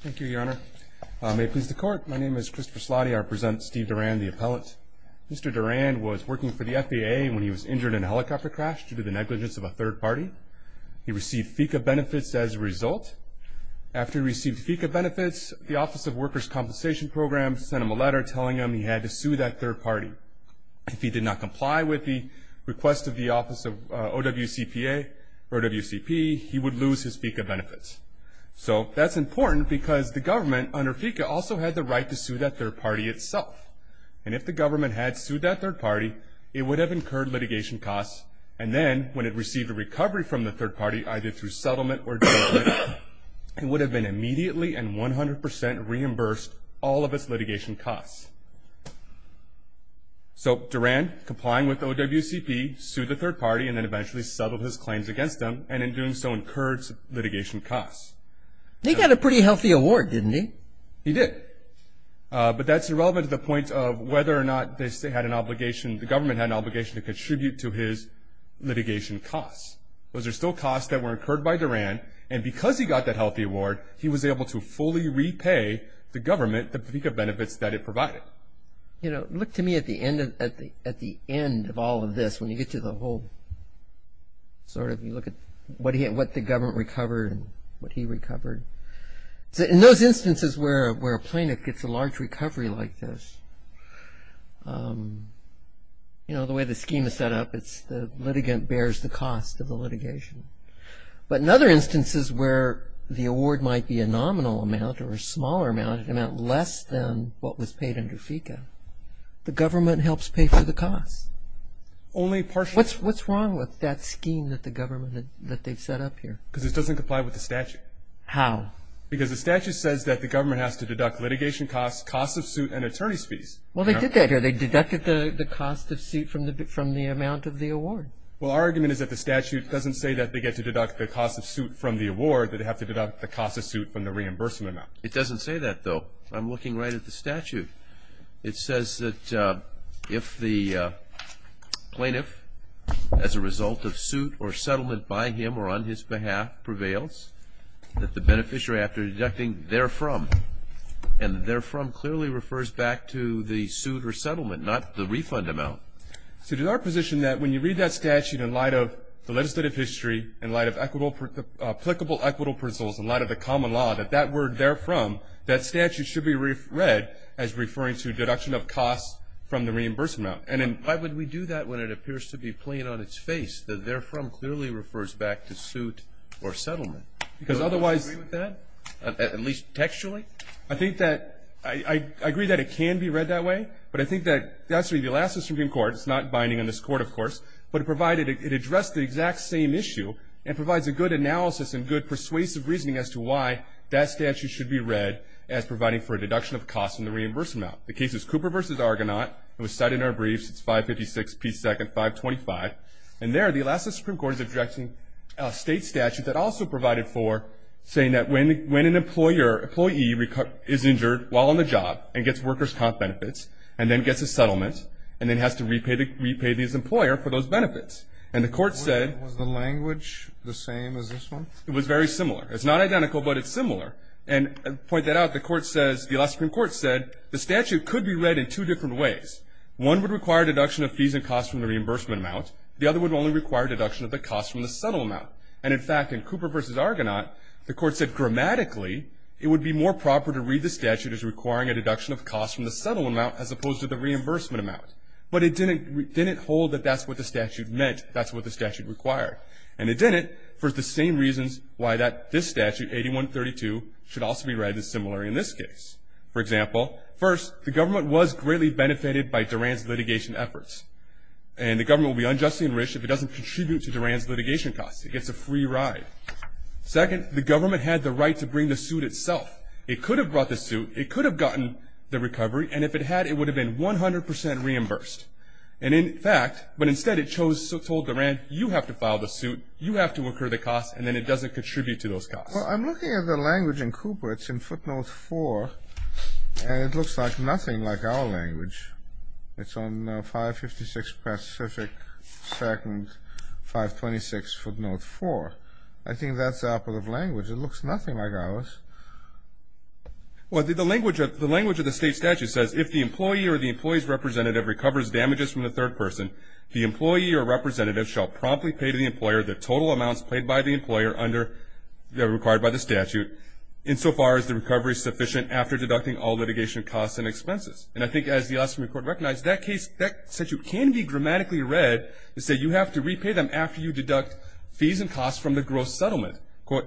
Thank you, Your Honor. May it please the Court, my name is Christopher Slotty. I represent Steve Durand, the appellate. Mr. Durand was working for the FAA when he was injured in a helicopter crash due to the negligence of a third party. He received FECA benefits as a result. After he received FECA benefits, the Office of Workers' Compensation Program sent him a letter telling him he had to sue that third party. If he did not comply with the request of the Office of OWCPA or OWCP, he would lose his FECA benefits. So, that's important because the government under FECA also had the right to sue that third party itself. And if the government had sued that third party, it would have incurred litigation costs, and then when it received a recovery from the third party, either through settlement or judgment, it would have been immediately and 100% reimbursed all of its litigation costs. So, Durand, complying with OWCP, sued the third party and then eventually settled his claims against them, and in doing so incurred litigation costs. He got a pretty healthy award, didn't he? He did, but that's irrelevant to the point of whether or not they had an obligation, the government had an obligation to contribute to his litigation costs. Those are still costs that were incurred by Durand, and because he got that healthy award, he was able to fully repay the government the FECA benefits that it provided. Look to me at the end of all of this when you get to the whole sort of, you look at what the government recovered and what he recovered. In those instances where a plaintiff gets a large recovery like this, the way the scheme is set up, it's the litigant bears the cost of the litigation. But in other instances where the award might be a nominal amount or a smaller amount, less than what was paid under FECA, the government helps pay for the costs. What's wrong with that scheme that the government, that they've set up here? Because it doesn't comply with the statute. How? Because the statute says that the government has to deduct litigation costs, cost of suit, and attorney's fees. Well, they did that here. They deducted the cost of suit from the amount of the award. Well, our argument is that the statute doesn't say that they get to deduct the cost of suit from the award, that they have to deduct the cost of suit from the reimbursement amount. It doesn't say that, though. I'm looking right at the statute. It says that if the plaintiff, as a result of suit or settlement by him or on his behalf, prevails, that the beneficiary after deducting therefrom, and therefrom clearly refers back to the suit or settlement, not the refund amount. So is our position that when you read that statute in light of the legislative history, in light of applicable equitable principles, in light of the common law, that that word therefrom, that statute should be read as referring to deduction of costs from the reimbursement amount? Why would we do that when it appears to be plain on its face that therefrom clearly refers back to suit or settlement? Because otherwise. Do you agree with that, at least textually? I think that I agree that it can be read that way. But I think that that's what you'll ask the Supreme Court. It's not binding on this Court, of course. But provided it addressed the exact same issue and provides a good analysis and good persuasive reasoning as to why that statute should be read as providing for a deduction of costs from the reimbursement amount. The case is Cooper v. Argonaut. It was cited in our briefs. It's 556p2, 525. And there, the Alaska Supreme Court is objecting a state statute that also provided for saying that when an employee is injured while on the job and gets workers' comp benefits and then gets a settlement and then has to repay the employer for those benefits. And the Court said the language was the same as this one? It was very similar. It's not identical, but it's similar. And to point that out, the Court says, the Alaska Supreme Court said, the statute could be read in two different ways. One would require a deduction of fees and costs from the reimbursement amount. The other would only require a deduction of the costs from the settlement amount. And, in fact, in Cooper v. Argonaut, the Court said grammatically it would be more proper to read the statute as requiring a deduction of costs from the settlement amount as opposed to the reimbursement amount. But it didn't hold that that's what the statute meant, that's what the statute required. And it didn't for the same reasons why this statute, 8132, should also be read as similar in this case. For example, first, the government was greatly benefited by Duran's litigation efforts. And the government will be unjustly enriched if it doesn't contribute to Duran's litigation costs. It gets a free ride. Second, the government had the right to bring the suit itself. It could have brought the suit. It could have gotten the recovery. And if it had, it would have been 100 percent reimbursed. And, in fact, but instead it chose, told Duran, you have to file the suit, you have to incur the costs, and then it doesn't contribute to those costs. Well, I'm looking at the language in Cooper. It's in footnote 4, and it looks like nothing like our language. It's on 556 Pacific 2nd, 526 footnote 4. I think that's the output of language. It looks nothing like ours. Well, the language of the state statute says, if the employee or the employee's representative recovers damages from the third person, the employee or representative shall promptly pay to the employer the total amounts paid by the employer under required by the statute, insofar as the recovery is sufficient after deducting all litigation costs and expenses. And I think, as the ostomy court recognized, that case, that statute can be grammatically read to say you have to repay them after you deduct fees and costs from the gross settlement.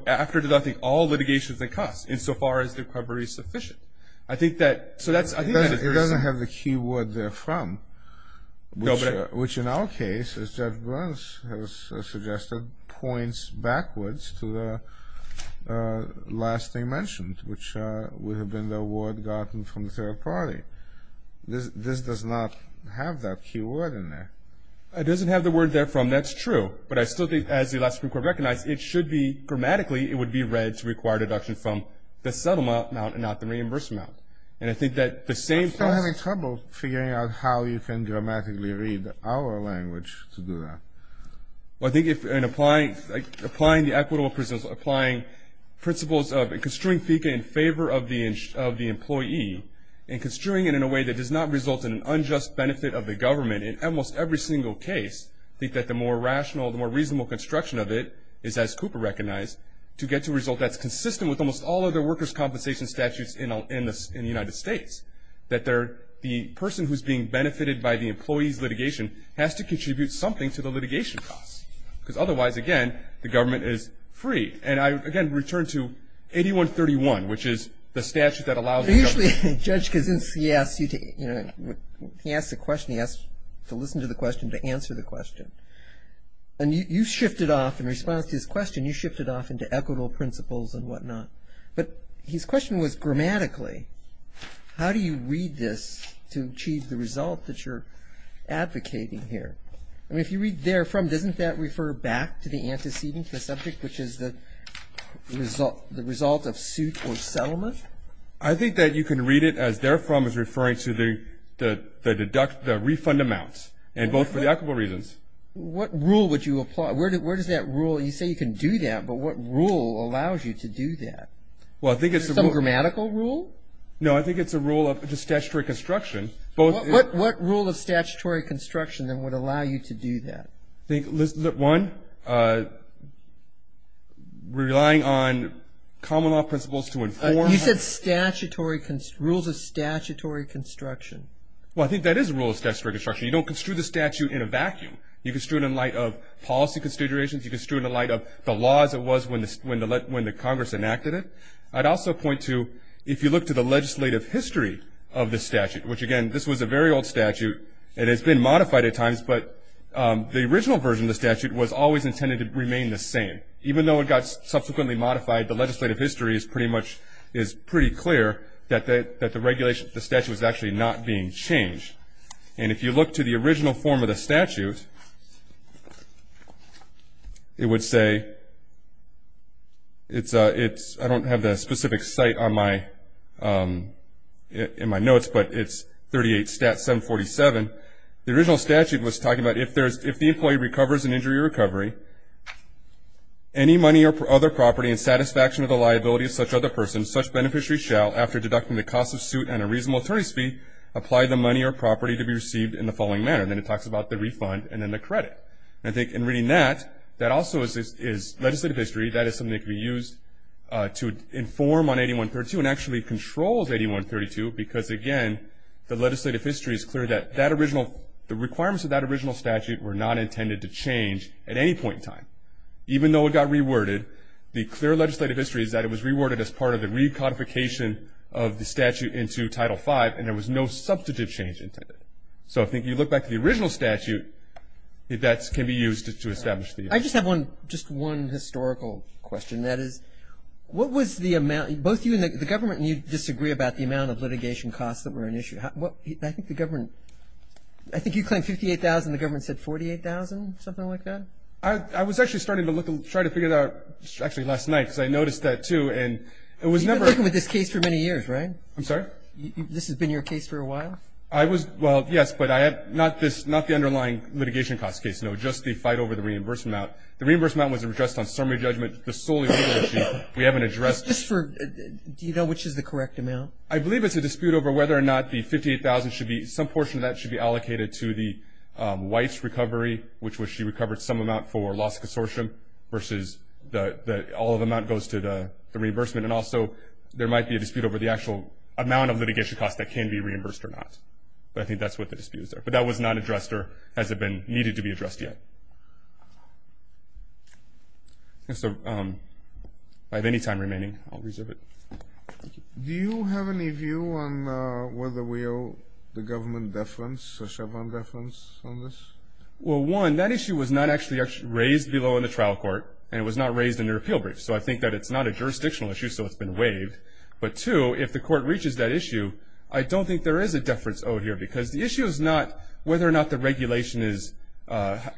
After deducting all litigations and costs, insofar as the recovery is sufficient. I think that, so that's. It doesn't have the key word therefrom, which in our case, as Judge Burns has suggested, points backwards to the last thing mentioned, which would have been the award gotten from the third party. This does not have that key word in there. It doesn't have the word therefrom. That's true. But I still think, as the last court recognized, it should be, grammatically, it would be read to require deduction from the settlement amount and not the reimbursement amount. And I think that the same. I'm still having trouble figuring out how you can grammatically read our language to do that. Well, I think in applying the equitable principles, applying principles of construing FICA in favor of the employee and construing it in a way that does not result in an unjust benefit of the government, in almost every single case, I think that the more rational, the more reasonable construction of it is, as Cooper recognized, to get to a result that's consistent with almost all other workers' compensation statutes in the United States, that the person who's being benefited by the employee's litigation has to contribute something to the litigation costs. Because otherwise, again, the government is free. And I, again, return to 8131, which is the statute that allows the government. Actually, Judge Kaczynski asked you to, you know, he asked a question. He asked to listen to the question, to answer the question. And you shifted off, in response to his question, you shifted off into equitable principles and whatnot. But his question was, grammatically, how do you read this to achieve the result that you're advocating here? I mean, if you read therefrom, doesn't that refer back to the antecedent, the subject, which is the result of suit or settlement? I think that you can read it as therefrom is referring to the deduct, the refund amounts, and both for the equitable reasons. What rule would you apply? Where does that rule, you say you can do that, but what rule allows you to do that? Well, I think it's a rule. Some grammatical rule? No, I think it's a rule of statutory construction. What rule of statutory construction, then, would allow you to do that? I think, one, relying on common law principles to inform. You said rules of statutory construction. Well, I think that is a rule of statutory construction. You don't construe the statute in a vacuum. You construe it in light of policy considerations. You construe it in light of the laws it was when the Congress enacted it. I'd also point to, if you look to the legislative history of the statute, which, again, this was a very old statute, and it's been modified at times, but the original version of the statute was always intended to remain the same. Even though it got subsequently modified, the legislative history is pretty clear that the regulation of the statute was actually not being changed. And if you look to the original form of the statute, it would say, I don't have the specific site in my notes, but it's 38 Stat. 747. The original statute was talking about if the employee recovers in injury or recovery, any money or other property in satisfaction of the liability of such other person, such beneficiary shall, after deducting the cost of suit and a reasonable attorney's fee, apply the money or property to be received in the following manner. And then it talks about the refund and then the credit. And I think in reading that, that also is legislative history. That is something that can be used to inform on 8132 and actually controls 8132 because, again, the legislative history is clear that the requirements of that original statute were not intended to change at any point in time. Even though it got reworded, the clear legislative history is that it was reworded as part of the recodification of the statute into Title V, and there was no substantive change intended. So I think if you look back to the original statute, that can be used to establish the issue. I just have one, just one historical question. That is, what was the amount, both you and the government, and you disagree about the amount of litigation costs that were an issue. I think the government, I think you claimed 58,000 and the government said 48,000, something like that? I was actually starting to look and try to figure it out actually last night because I noticed that too. And it was never. You've been working with this case for many years, right? I'm sorry? This has been your case for a while? I was, well, yes, but I have not this, not the underlying litigation costs case, no, just the fight over the reimbursement amount. The reimbursement amount was addressed on summary judgment. The solely legal issue we haven't addressed. Just for, do you know which is the correct amount? I believe it's a dispute over whether or not the 58,000 should be, some portion of that should be allocated to the wife's recovery, which was she recovered some amount for loss consortium versus the, all of the amount goes to the reimbursement. And also there might be a dispute over the actual amount of litigation costs that can be reimbursed or not. But I think that's what the disputes are. But that was not addressed or has it been needed to be addressed yet. So if I have any time remaining, I'll reserve it. Thank you. Do you have any view on whether we owe the government deference, a Chevron deference on this? Well, one, that issue was not actually raised below in the trial court, and it was not raised in the repeal brief. So I think that it's not a jurisdictional issue, so it's been waived. But two, if the court reaches that issue, I don't think there is a deference owed here. Because the issue is not whether or not the regulation is,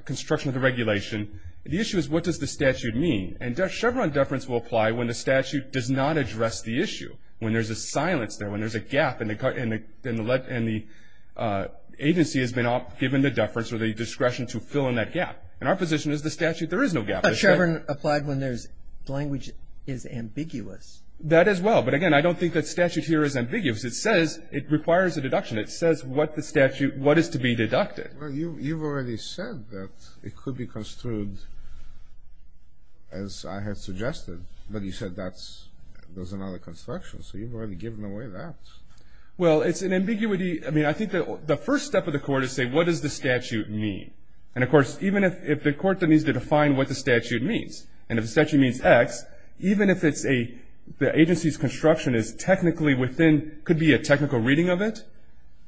construction of the regulation. The issue is what does the statute mean. And Chevron deference will apply when the statute does not address the issue, when there's a silence there, when there's a gap, and the agency has been given the deference or the discretion to fill in that gap. And our position is the statute, there is no gap. But Chevron applied when there's language is ambiguous. That as well. But, again, I don't think that statute here is ambiguous. It says it requires a deduction. It says what the statute, what is to be deducted. Well, you've already said that it could be construed as I had suggested, but you said that's another construction. So you've already given away that. Well, it's an ambiguity. I mean, I think the first step of the court is say what does the statute mean. And, of course, even if the court then needs to define what the statute means, and if the statute means X, even if it's a, the agency's construction is technically within, could be a technical reading of it,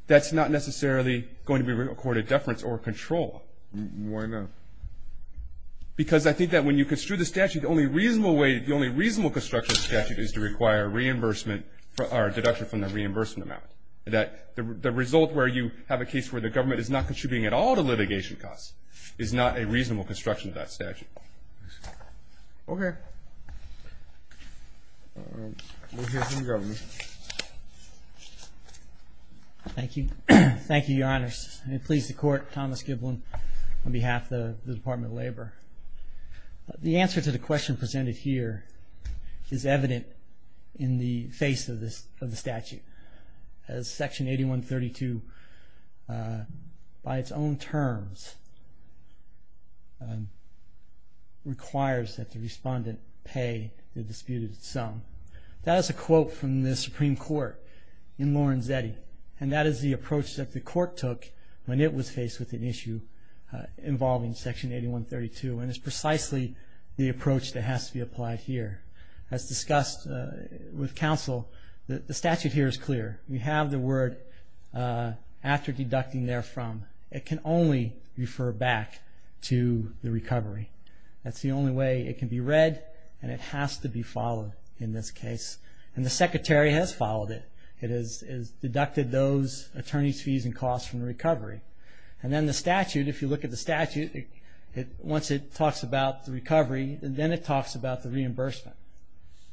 that's not necessarily going to be recorded deference or control. Why not? Because I think that when you construe the statute, the only reasonable way, the only reasonable construction of the statute is to require reimbursement or deduction from the reimbursement amount. That the result where you have a case where the government is not contributing at all to litigation costs is not a reasonable construction of that statute. Okay. We'll hear from the government. Thank you. Thank you, Your Honors. I'm pleased to court Thomas Giblin on behalf of the Department of Labor. The answer to the question presented here is evident in the face of the statute. As Section 8132, by its own terms, requires that the respondent pay the disputed sum. That is a quote from the Supreme Court in Lorenzetti. And that is the approach that the court took when it was faced with an issue involving Section 8132. And it's precisely the approach that has to be applied here. As discussed with counsel, the statute here is clear. We have the word after deducting therefrom. It can only refer back to the recovery. That's the only way it can be read, and it has to be followed in this case. And the Secretary has followed it. It has deducted those attorney's fees and costs from the recovery. And then the statute, if you look at the statute, once it talks about the recovery, then it talks about the reimbursement.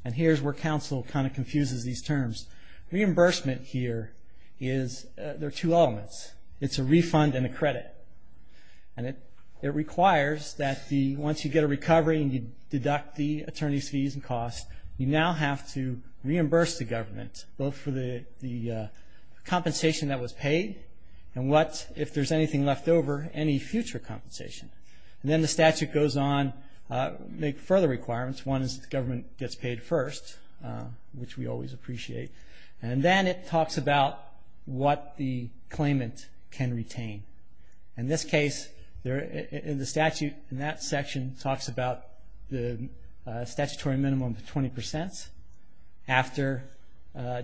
And here's where counsel kind of confuses these terms. Reimbursement here is there are two elements. It's a refund and a credit. And it requires that once you get a recovery and you deduct the attorney's fees and costs, you now have to reimburse the government both for the compensation that was paid and what, if there's anything left over, any future compensation. And then the statute goes on to make further requirements. One is the government gets paid first, which we always appreciate. And then it talks about what the claimant can retain. In this case, the statute in that section talks about the statutory minimum of 20 percent after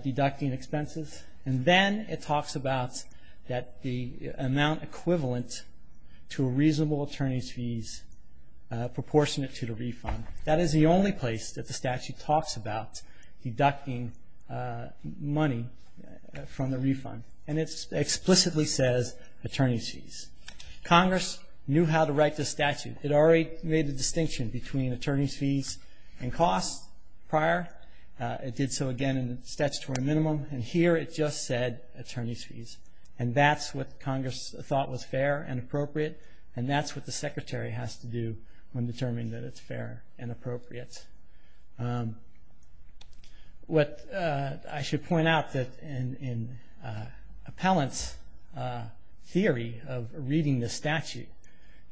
deducting expenses. And then it talks about the amount equivalent to a reasonable attorney's fees proportionate to the refund. That is the only place that the statute talks about deducting money from the refund. And it explicitly says attorney's fees. Congress knew how to write this statute. It already made the distinction between attorney's fees and costs prior. It did so, again, in the statutory minimum. And here it just said attorney's fees. And that's what Congress thought was fair and appropriate. And that's what the Secretary has to do when determining that it's fair and appropriate. What I should point out that in Appellant's theory of reading the statute,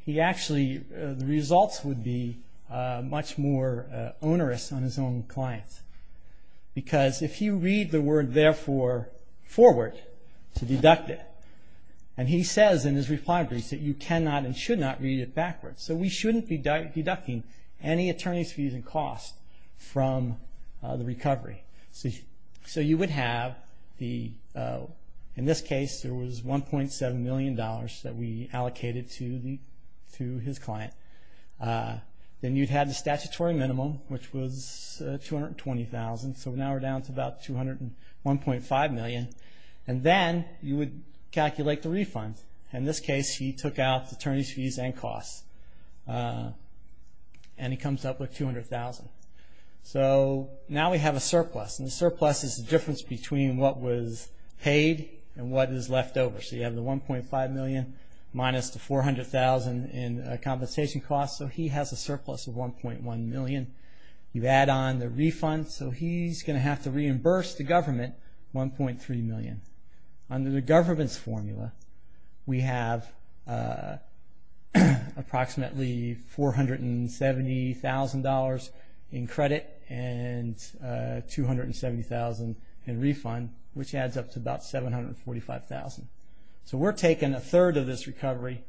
he actually, the results would be much more onerous on his own clients. Because if you read the word, therefore, forward to deduct it, and he says in his reply brief that you cannot and should not read it backwards. So we shouldn't be deducting any attorney's fees and costs from the recovery. So you would have the, in this case, there was $1.7 million that we allocated to his client. Then you'd have the statutory minimum, which was $220,000. So now we're down to about $201.5 million. And then you would calculate the refund. In this case, he took out attorney's fees and costs. And he comes up with $200,000. So now we have a surplus. And the surplus is the difference between what was paid and what is left over. So you have the $1.5 million minus the $400,000 in compensation costs. So he has a surplus of $1.1 million. You add on the refund. So he's going to have to reimburse the government $1.3 million. Under the government's formula, we have approximately $470,000 in credit and $270,000 in refund, which adds up to about $745,000. So we're taking a third of this recovery.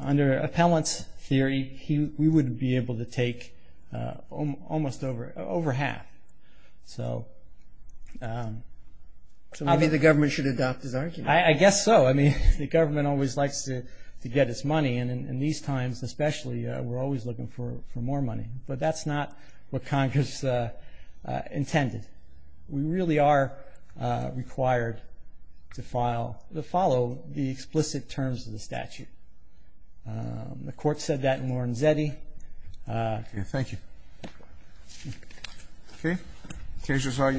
Under appellant's theory, we would be able to take almost over half. So maybe the government should adopt his argument. I guess so. I mean, the government always likes to get its money. And these times, especially, we're always looking for more money. But that's not what Congress intended. We really are required to follow the explicit terms of the statute. The court said that in Lorenzetti. Thank you. Okay. This case for this session stays adjourned.